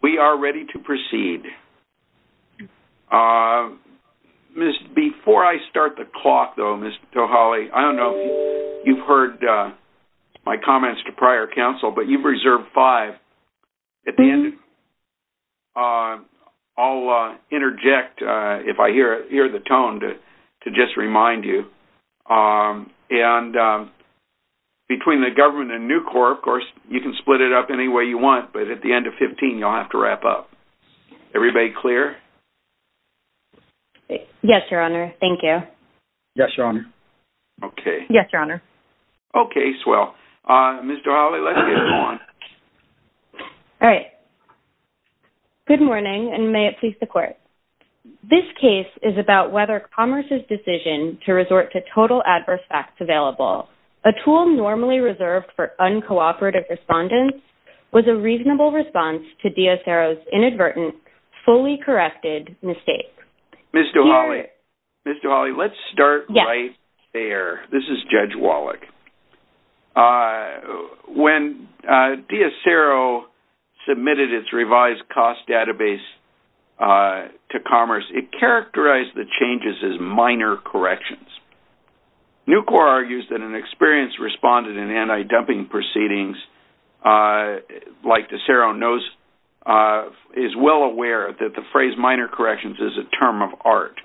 we are ready to proceed uh... missed before i start the clock though mister toholly i don't know you've heard uh... my comments to prior counsel but you've reserved five at the end uh... all uh... interject uh... if i hear it here the tone that to just remind you uh... and uh... between the government and new corp course you can split it up any way you want but at the end of fifteen you'll have to wrap up everybody clear yes your honor thank you yes your honor okay yes your honor okay swell uh... mister holly let's get going good morning and may it please the court this case is about whether commerce's decision to resort to total adverse facts available a tool normally reserved for uncooperative respondents was a reasonable response to deacero's inadvertent fully corrected mistake mister holly mister holly let's start right there this is judge wallach uh... when uh... deacero submitted its revised cost database uh... to commerce it characterized the changes as minor corrections newcorp argues that an experienced respondent in anti-dumping proceedings uh... like deacero knows uh... is well aware that the phrase minor corrections is a term of art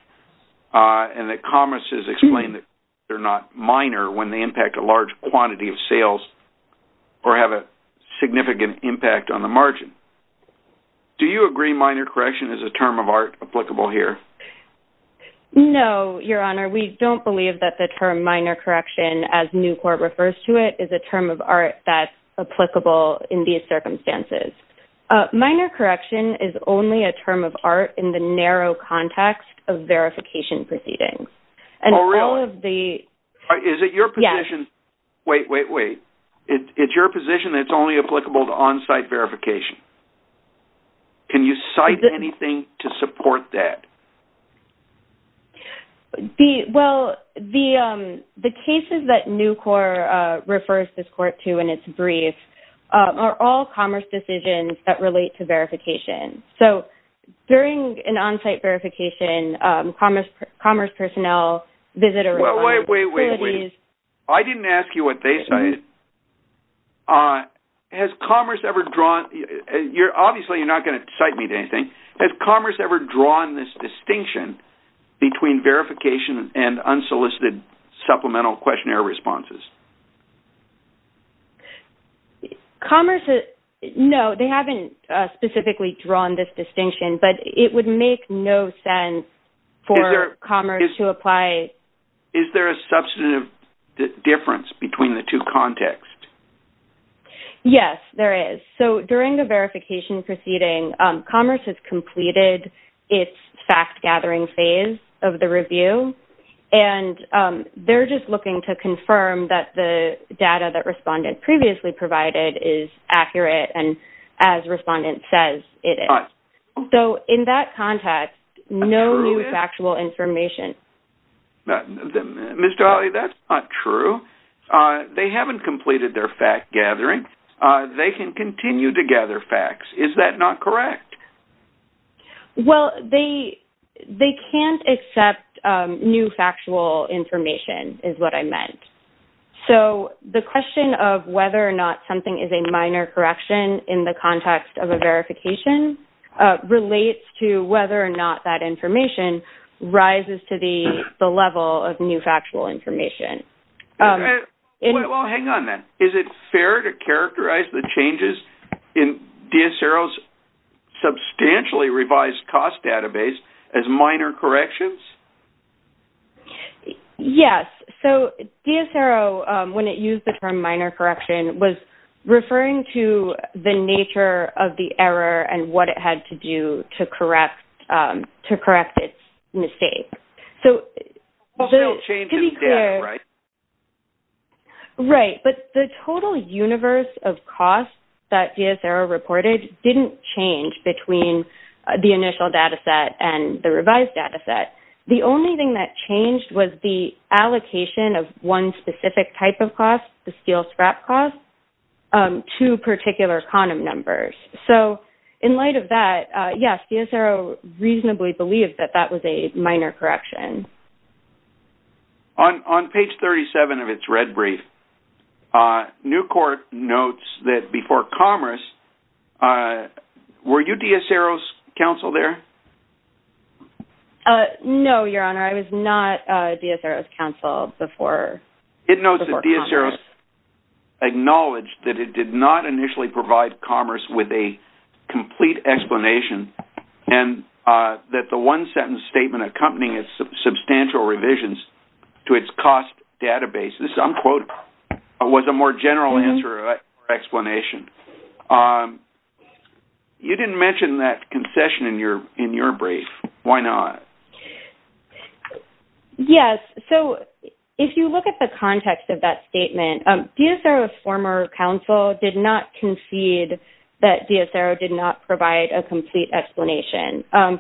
uh... and that commerce has explained they're not minor when they impact a large quantity of sales or have a significant impact on the margin do you agree minor correction is a term of art applicable here no your honor we don't believe that the term minor correction as newcorp refers to it is a term of art that applicable in these circumstances uh... minor correction is only a term of art in the narrow context of verification proceedings and all of the is it your position wait wait wait it's your position it's only applicable to on-site verification can you cite anything to support that the well the uh... the cases that newcorp uh... refers this court to in its brief uh... are all commerce decisions that relate to verification during an on-site verification uh... commerce commerce personnel visitor wait wait wait wait i didn't ask you what they cited has commerce ever drawn you're obviously not going to cite me to anything has commerce ever drawn this distinction between verification and unsolicited supplemental questionnaire responses commerce is no they haven't uh... specifically drawn this distinction but it would make no sense for commerce to apply is there a substantive difference between the two contexts yes there is so during the verification proceeding uh... commerce has completed fact-gathering phase of the review and uh... they're just looking to confirm that the data that respondent previously provided is accurate and as respondent says it is so in that context no factual information that mister holly that's not true uh... they haven't completed their fact-gathering uh... they can continue to gather facts is that not correct well they they can't accept uh... new factual information is what i meant so the question of whether or not something is a minor correction in the context of a verification uh... relates to whether or not that information rises to the the level of new factual information uh... well hang on then is it fair to characterize the changes in dsrl's substantially revised cost database as minor corrections yes so dsrl uh... when it used the term minor correction was referring to the nature of the error and what it had to do to correct uh... to correct its mistake so to be clear right but the total universe of cost that dsrl reported didn't change between uh... the initial data set and the revised data set the only thing that changed was the allocation of one specific type of cost the steel scrap cost uh... to particular quantum numbers so in light of that uh... yes dsrl reasonably believed that that was a minor correction on on page thirty seven of its red brief uh... new court notes that before commerce uh... were you dsrl's council there uh... no your honor i was not uh... dsrl's council before it notes that dsrl acknowledged that it did not initially provide commerce with a complete explanation uh... that the one sentence statement accompanying its substantial revisions to its cost database this is unquotable was a more general answer or explanation uh... you didn't mention that concession in your in your brief why not yes so if you look at the context of that statement dsrl's former council did not concede that dsrl did not provide a complete explanation uh...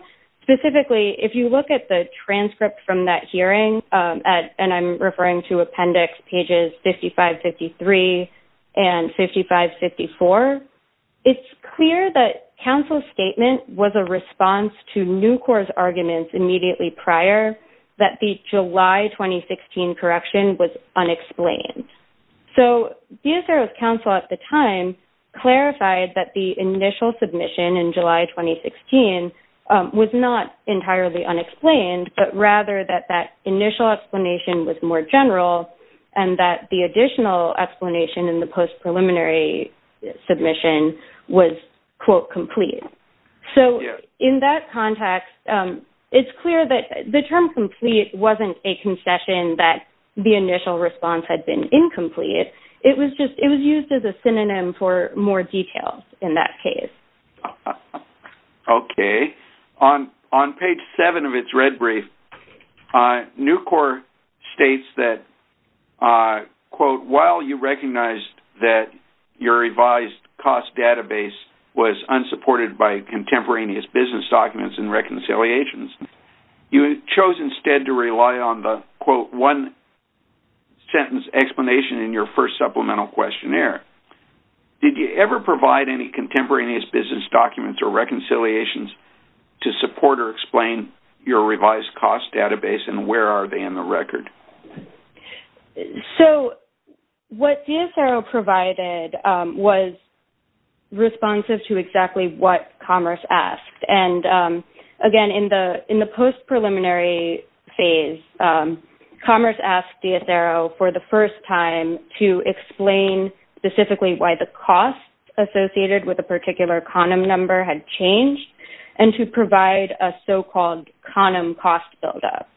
specifically if you look at the transcript from that hearing uh... at and i'm referring to appendix pages fifty five fifty three and fifty five fifty four it's clear that council's statement was a response to new court's arguments immediately prior that the july twenty sixteen correction was unexplained so dsrl's council at the time clarified that the initial submission in july twenty sixteen uh... with not entirely unexplained but rather that that initial explanation with more general and that the additional explanation in the post-preliminary submission quote complete so in that context uh... it's clear that the term complete wasn't a concession that the initial response had been incomplete it was just it was used as a synonym for more details in that case uh... okay on page seven of its red brief uh... new court states that uh... quote while you recognized your revised cost database was unsupported by contemporaneous business documents and reconciliations you chose instead to rely on the quote one sentence explanation in your first supplemental questionnaire did you ever provide any contemporaneous business documents or reconciliations to support or explain your revised cost database and where are they in the record so what dsrl provided uh... was responsive to exactly what commerce asked and uh... again in the in the post-preliminary phase commerce asked dsrl for the first time to explain specifically why the cost associated with a particular quantum number had changed and to provide a so-called quantum cost buildup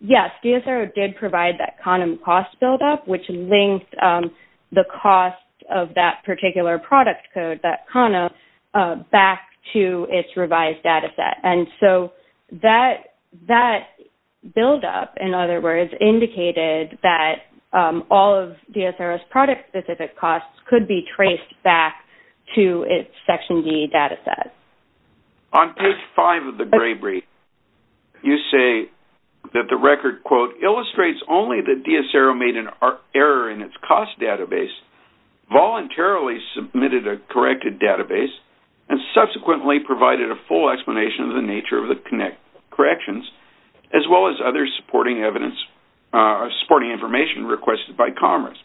yes dsrl did provide that quantum cost buildup which linked the cost of that particular product code that quantum uh... back to its revised data set and so that that buildup in other words indicated that um... all of dsrl's product specific costs could be traced back to its section d data set on page five of the gray brief you say that the record quote illustrates only that dsrl made an error in its cost database voluntarily submitted a corrected database and subsequently provided a full explanation of the nature of the corrections as well as other supporting evidence uh... supporting information requested by commerce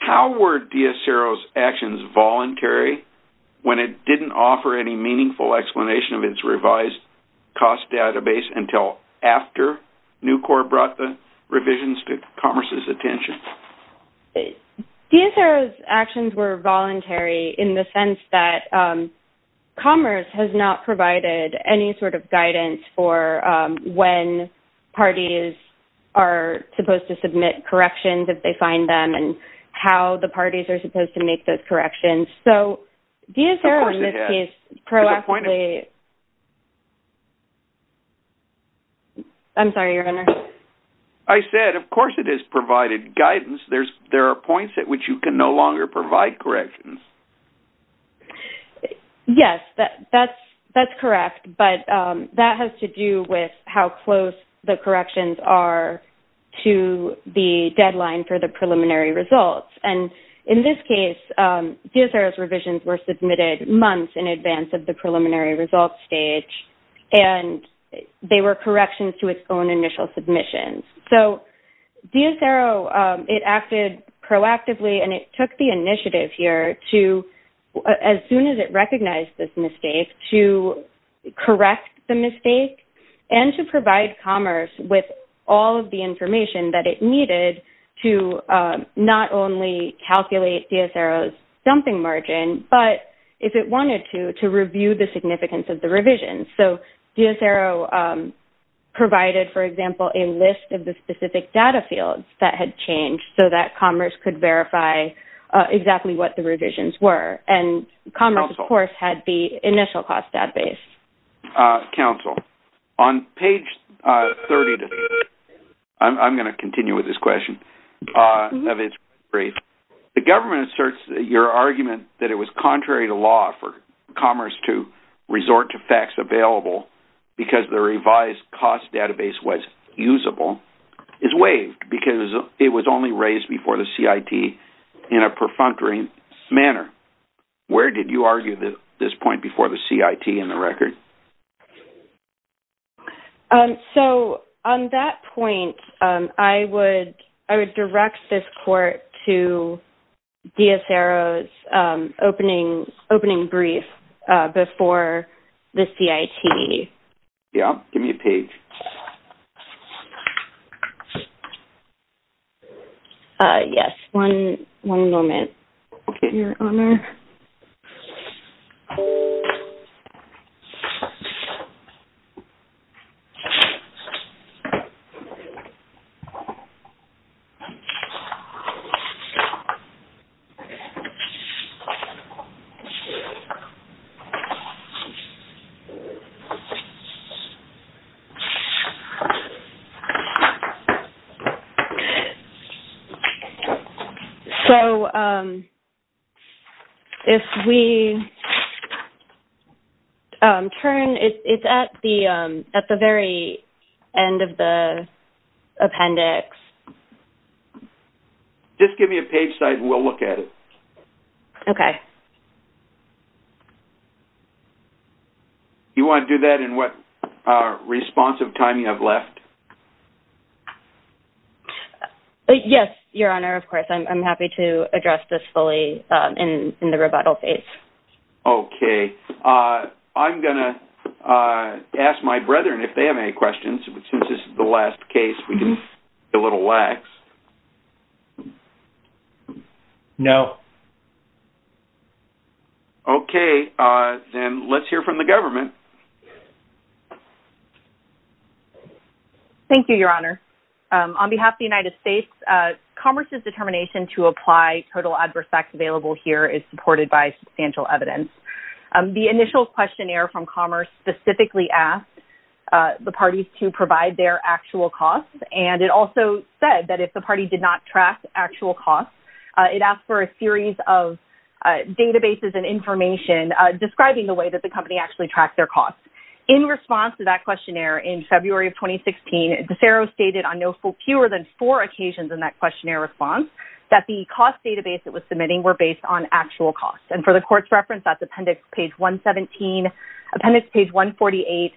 how were dsrl's actions voluntary when it didn't offer any meaningful explanation of its revised cost database until after nucor brought the revisions to commerce's attention dsrl's actions were voluntary in the sense that uh... commerce has not provided any sort of guidance for uh... when parties are supposed to submit corrections if they find them and how the parties are supposed to make those corrections so dsrl in this case proactively i'm sorry your honor i said of course it is provided guidance there's there are points at which you can no longer provide corrections yes that that's correct but um... that has to do with how close the corrections are to the deadline for the preliminary results and in this case uh... dsrl's revisions were submitted months in advance of the preliminary results stage and they were corrections to its own initial submissions so dsrl uh... it acted proactively and it took the initiative here to as soon as it recognized this mistake to correct the mistake and to provide commerce with all of the information that it needed to uh... not only calculate dsrl's dumping margin but if it wanted to to review the significance of the revision so dsrl provided for example a list of the specific data fields that had changed so that commerce could verify uh... exactly what the revisions were and commerce of course had the initial cost database uh... counsel on page uh... thirty to thirty i'm i'm going to continue with this question uh... of its brief the government asserts that your argument that it was contrary to law for commerce to resort to facts available because the revised cost database was usable is waived because it was only raised before the CIT in a perfunctory manner where did you argue that this point before the CIT in the record uh... so on that point uh... i would i would direct this court to dsrl's uh... opening opening brief uh... before the CIT yeah give me a page uh... yes one okay your honor uh... so uh... if we uh... turn it's at the uh... at the very end of the appendix just give me a page so i can go look at it okay you want to do that in what uh... responsive time you have left uh... yes your honor of course i'm i'm happy to address this fully uh... in in the rebuttal phase okay uh... i'm gonna uh... ask my brethren if they have any questions since this is the last case we can okay uh... then let's hear from the government thank you your honor uh... on behalf the united states uh... commerce's determination to apply total adverse facts available here is supported by substantial evidence uh... the initial questionnaire from commerce specifically asked uh... the parties to provide their actual costs and it also said that if the party did not track actual costs uh... it asked for a series of uh... databases and information uh... describing the way that the company actually tracked their costs in response to that questionnaire in february of twenty sixteen de ferro stated on no fewer than four occasions in that questionnaire response that the cost database that was submitting were based on actual costs and for the court's reference that's appendix page one seventeen appendix page one forty eight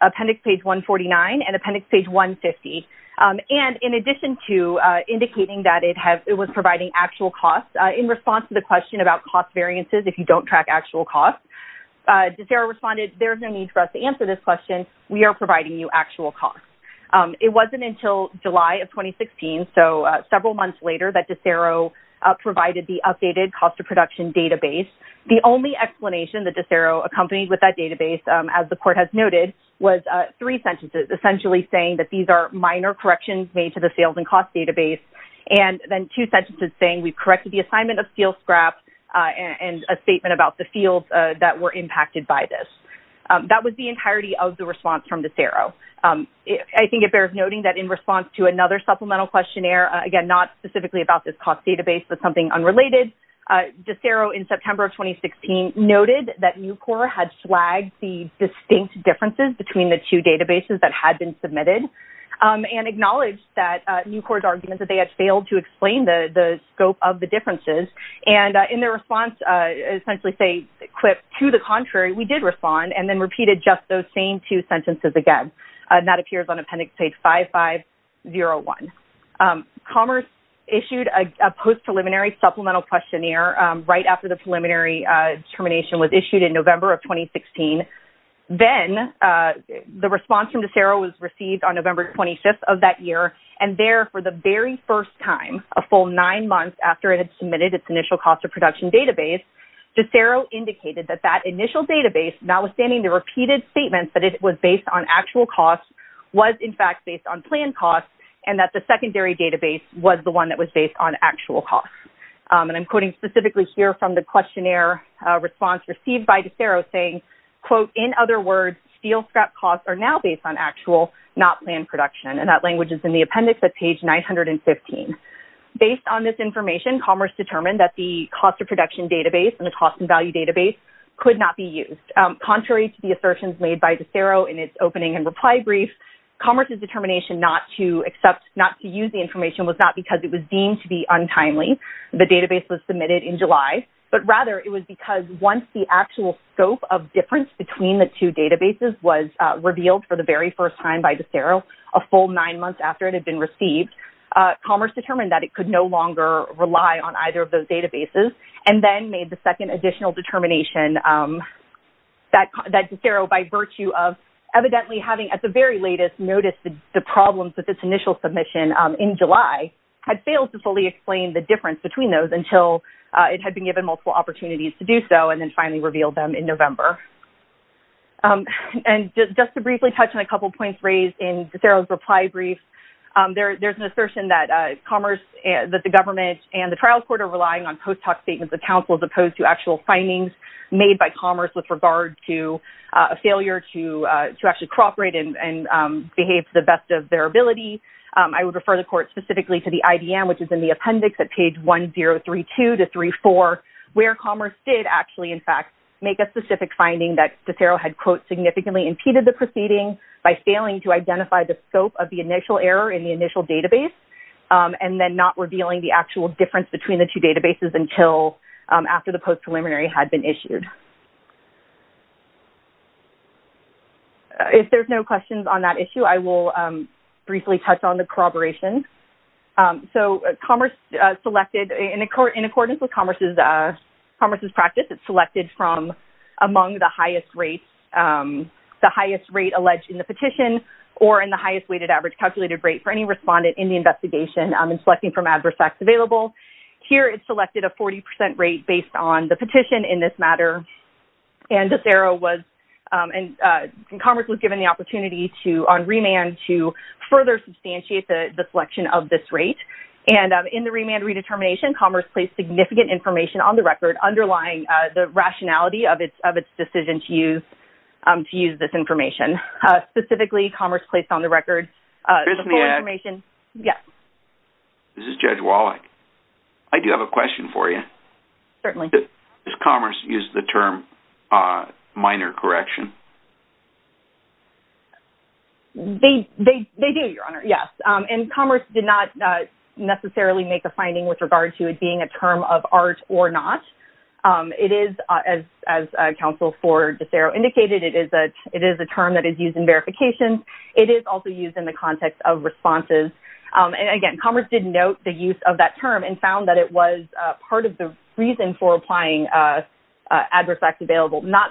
appendix page one forty nine and appendix page one fifty uh... and in addition to uh... indicating that it had it was providing actual costs uh... in response to the question about cost variances if you don't track actual costs uh... de ferro responded there's no need for us to answer this question we are providing you actual costs uh... it wasn't until july of twenty sixteen so uh... several months later that de ferro uh... provided the updated cost of production database the only explanation that de ferro accompanied with that database uh... as the court has noted was uh... three sentences essentially saying that these are minor corrections made to the sales and cost database and then two sentences saying we've corrected the assignment of steel scraps uh... and a statement about the fields uh... that were impacted by this uh... that would be entirety of the response from de ferro uh... i think it bears noting that in response to another supplemental questionnaire again not specifically about the cost database but something unrelated uh... de ferro in september twenty sixteen noted that nucor had flagged the distinct differences between the two databases that had been submitted uh... and acknowledged that uh... nucor's argument that they had failed to explain the the scope of the differences and uh... in their response uh... essentially say to the contrary we did respond and then repeated just those same two sentences again and that appears on appendix page five five zero one uh... commerce issued a post preliminary supplemental questionnaire uh... right after the then uh... the response from de ferro was received on november twenty-fifth of that year and there for the very first time a full nine months after it had submitted its initial cost of production database de ferro indicated that that initial database notwithstanding the repeated statement that it was based on actual costs was in fact based on planned costs and that the secondary database was the one that was based on actual costs uh... and i'm quoting specifically here from the questionnaire response received by de ferro saying quote in other words steel scrap costs are now based on actual not planned production and that language is in the appendix at page nine hundred and fifteen based on this information commerce determined that the cost of production database and the cost and value database could not be used uh... contrary to the assertions made by de ferro in its opening and reply brief commerce's determination not to accept not to use the information was not because it was deemed to be untimely the database was submitted in july but rather it was because once the actual scope of difference between the two databases was uh... revealed for the very first time by de ferro a full nine months after it had been received uh... commerce determined that it could no longer rely on either of those databases and then made the second additional determination uh... that de ferro by virtue of evidently having at the very latest noticed the problems with this initial submission uh... in july had failed to fully explain the difference between those until uh... it had been given multiple opportunities to do so and then finally revealed them in november uh... and just just to briefly touch on a couple points raised in de ferro's reply brief uh... there there's an assertion that uh... commerce and that the government and the trial court are relying on post hoc statements of counsel as opposed to actual findings made by commerce with regard to uh... a failure to uh... to actually cooperate and and um... behave to the best of their ability uh... i would refer the court specifically to the IDM which is in the where commerce did actually in fact make a specific finding that de ferro had quote significantly impeded the proceeding by failing to identify the scope of the initial error in the initial database uh... and then not revealing the actual difference between the two databases until uh... after the post preliminary had been issued if there's no questions on that issue i will um... briefly touch on the corroboration so commerce uh... selected in accordance with commerce's uh... commerce's practice it's selected from among the highest rates um... the highest rate alleged in the petition or in the highest weighted average calculated rate for any respondent in the investigation and selecting from adverse facts available here it's selected a forty percent rate based on the petition in this matter and de ferro was uh... and uh... commerce was given the opportunity to on remand to further substantiate the selection of this rate and uh... in the remand redetermination commerce placed significant information on the record underlying uh... the rationality of its of its decision to use um... to use this information uh... specifically commerce placed on the record uh... the full information this is judge wallach i do have a question for you certainly does commerce use the term uh... minor correction they do your honor yes and commerce did not necessarily make a finding with regard to it being a term of art or not um... it is uh... as council for de ferro indicated it is a term that is used in verification it is also used in the context of responses and again commerce did note the use of that term and found that it was part of the reason for applying not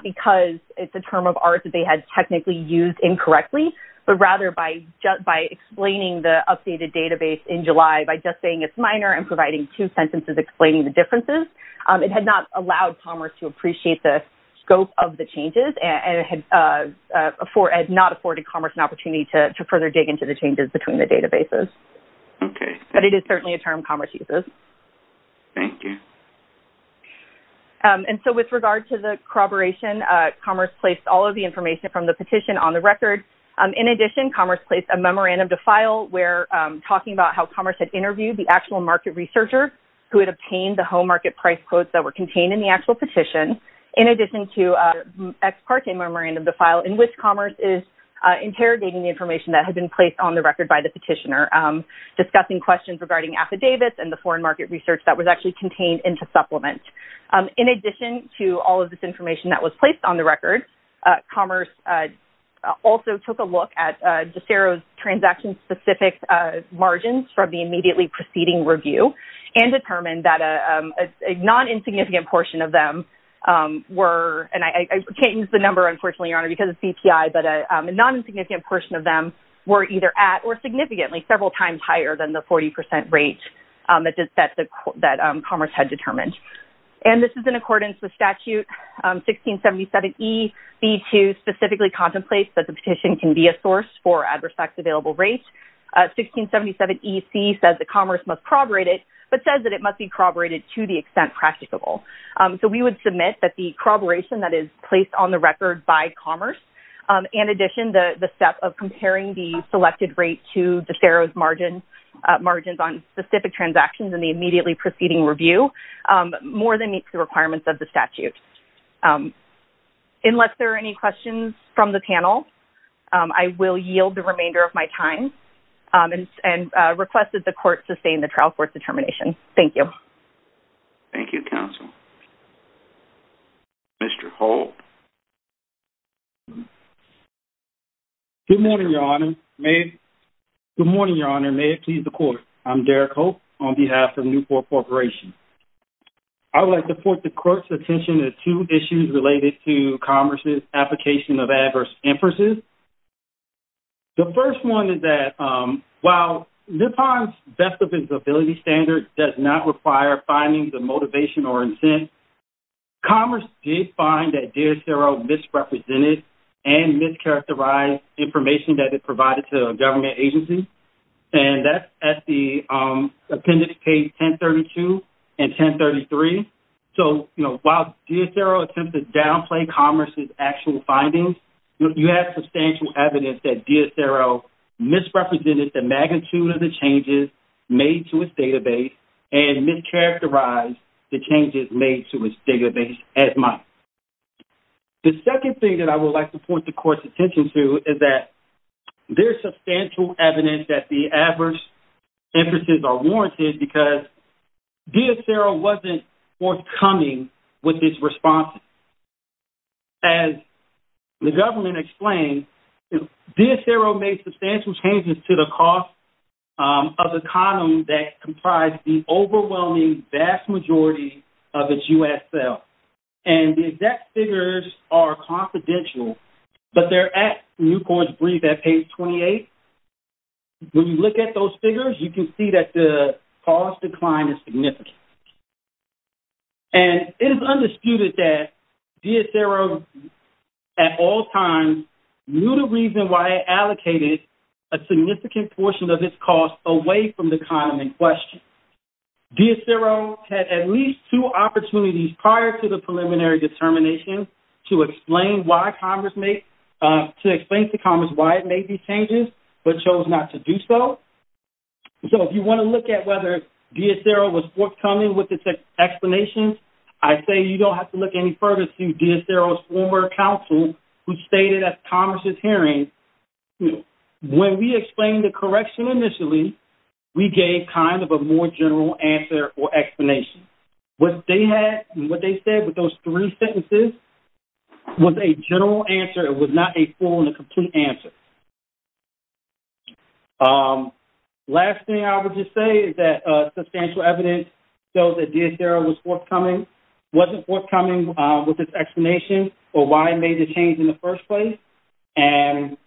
because it's a term of art that they had technically used incorrectly but rather by explaining the updated database in july by just saying it's minor and providing two sentences explaining the differences it had not allowed commerce to appreciate the scope of the changes and had not afforded commerce an opportunity to further dig into the changes between the databases okay but it is certainly a term commerce uses thank you and so with regard to the corroboration commerce placed all of the information from the petition on the record in addition commerce placed a memorandum to file where talking about how commerce had interviewed the actual market researcher who had obtained the home market price quotes that were contained in the actual petition in addition to uh... ex parte memorandum to file in which commerce is interrogating the information that had been placed on the record by the petitioner discussing questions regarding affidavits and the foreign market research that was actually contained into supplement in addition to all of this information that was placed on the record commerce also took a look at transaction specific margins from the immediately preceding review and determined that a non-insignificant portion of them were and I can't use the number unfortunately your honor because it's CPI but a non-insignificant portion of them were either at or significantly several times higher than the 40% rate that commerce had determined and this is in accordance with statute 1677 E B2 specifically contemplates that the petition can be a source for adverse acts available rates 1677 EC says that commerce must corroborate it but says that it must be corroborated to the extent practicable so we would submit that the corroboration that is placed on the record by commerce in addition to the step of comparing the selected rate to the Sarah's margin margins on specific transactions in the immediately preceding review more than meets the requirements of the statute unless there are any questions from the panel I will yield the remainder of my time and requested the court to stay in the trial court determination thank you thank you counsel Mr. Holt good morning your honor may good morning your honor may it please the court I'm Derek Holt on behalf of Newport Corporation I would like to put the court's attention to two issues related to commerce's application of adverse inferences the first one is that while Nippon's best of visibility standard does not require findings of motivation or intent commerce did find that DSRO misrepresented and mischaracterized information that it provided to government agencies and that's at the appendix page 1032 and 1033 so you know while DSRO attempts to downplay commerce's actual findings you have substantial evidence that DSRO misrepresented the magnitude of the changes made to its database and mischaracterized the changes made to its database as much the second thing that I would like to point the court's attention to is that there is substantial evidence that the adverse inferences are warranted because DSRO wasn't forthcoming with this response as the government explained DSRO made substantial changes to the cost of the column that comprised the overwhelming vast majority of its USL and the exact figures are confidential but they're at Newport's brief at page 28 when you look at those figures you can see that the cost decline is significant and it is undisputed that DSRO at all times knew the reason why it allocated a significant portion of its cost away from the column in question DSRO had at least two opportunities prior to the preliminary determination to explain why commerce made to explain to commerce why it made these changes but chose not to do so so if you want to look at whether DSRO was forthcoming with its explanations I say you don't have to look any further to DSRO's former counsel who stated at commerce's hearing when we explained the correction initially we gave kind of a more general answer or explanation what they had and what they said with those three sentences was a general answer it was not a full and a complete answer last thing I would just say is that substantial evidence shows that DSRO was forthcoming wasn't forthcoming with its explanation or why it made the change in the first place and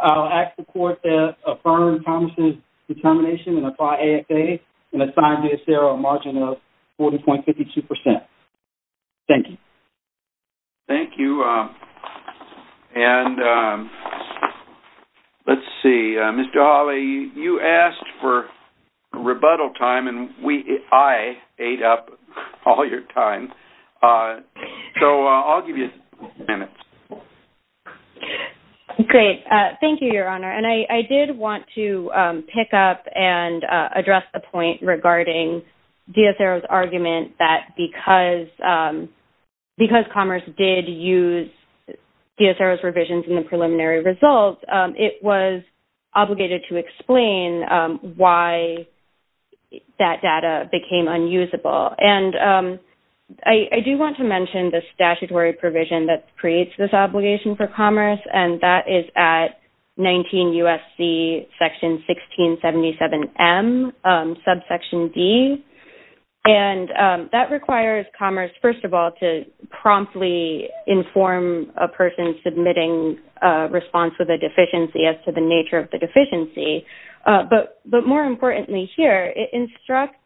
I'll ask the court to affirm commerce's determination and apply ASA and assign DSRO a margin of 40.52%. Thank you. Thank you and let's see Mr. Hawley you asked for rebuttal time and I ate up all your time so I'll give you a minute. Great thank you your honor and I did want to pick up and address the point regarding DSRO's argument that because commerce did use it was obligated to explain why that data became unusable and I do want to mention the statutory provision that creates this obligation for commerce and that is at 19 USC section 1677 M subsection D and that requires commerce first of all to promptly inform a person submitting a response with a deficiency as to the nature of the deficiency but more importantly here it instructs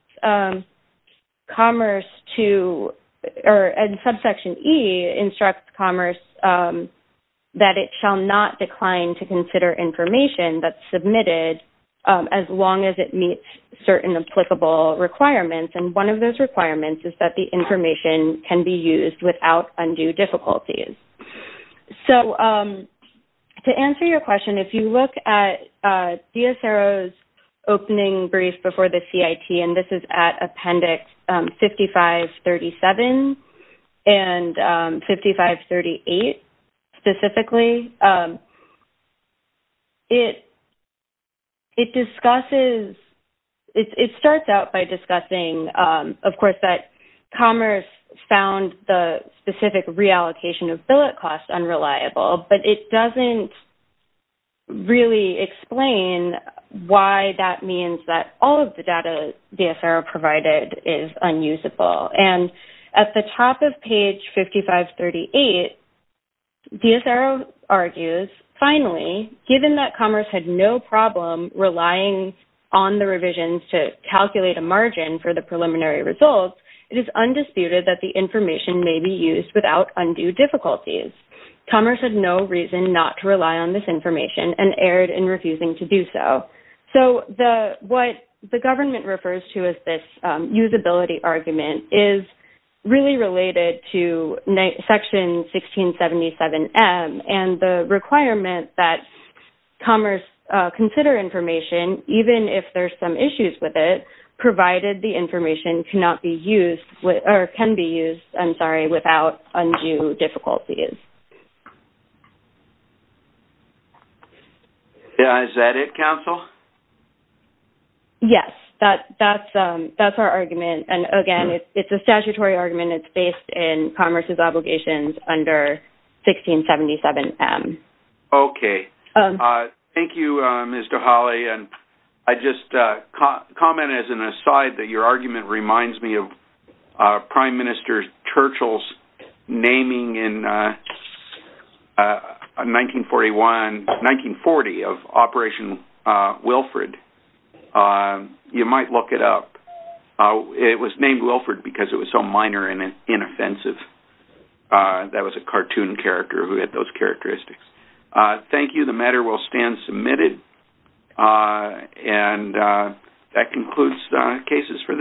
commerce to and subsection E instructs commerce that it shall not decline to consider information that's submitted as long as it meets certain applicable requirements and one of those requirements is that the information can be used without undue difficulties. So to answer your question if you look at DSRO's opening brief before the CIT and this is at appendix 5537 and 5538 specifically it discusses it starts out by discussing of course that commerce found the specific reallocation of billet costs unreliable but it doesn't really explain why that means that all of the data DSRO provided is unusable and at the top of page 5538 DSRO argues finally given that commerce had no problem relying on the revisions to calculate a margin for the may be used without undue difficulties commerce had no reason not to rely on this information and erred in refusing to do so. So what the government refers to as this usability argument is really related to section 1677M and the requirement that commerce consider information even if there's some issues with it provided the information cannot be used or can be used without undue difficulties. Is that it counsel? Yes. That's our argument and again it's a statutory argument. It's based in commerce's obligations under 1677M. Okay. Thank you Mr. Hawley and I just comment as an aside that your argument reminds me of Prime Minister Churchill's naming in 1941 1940 of Operation Wilfrid. You might look it up. It was named Wilfrid because it was so minor and inoffensive. That was a cartoon character who had those characteristics. Thank you. The matter will stand submitted and that concludes cases for the day.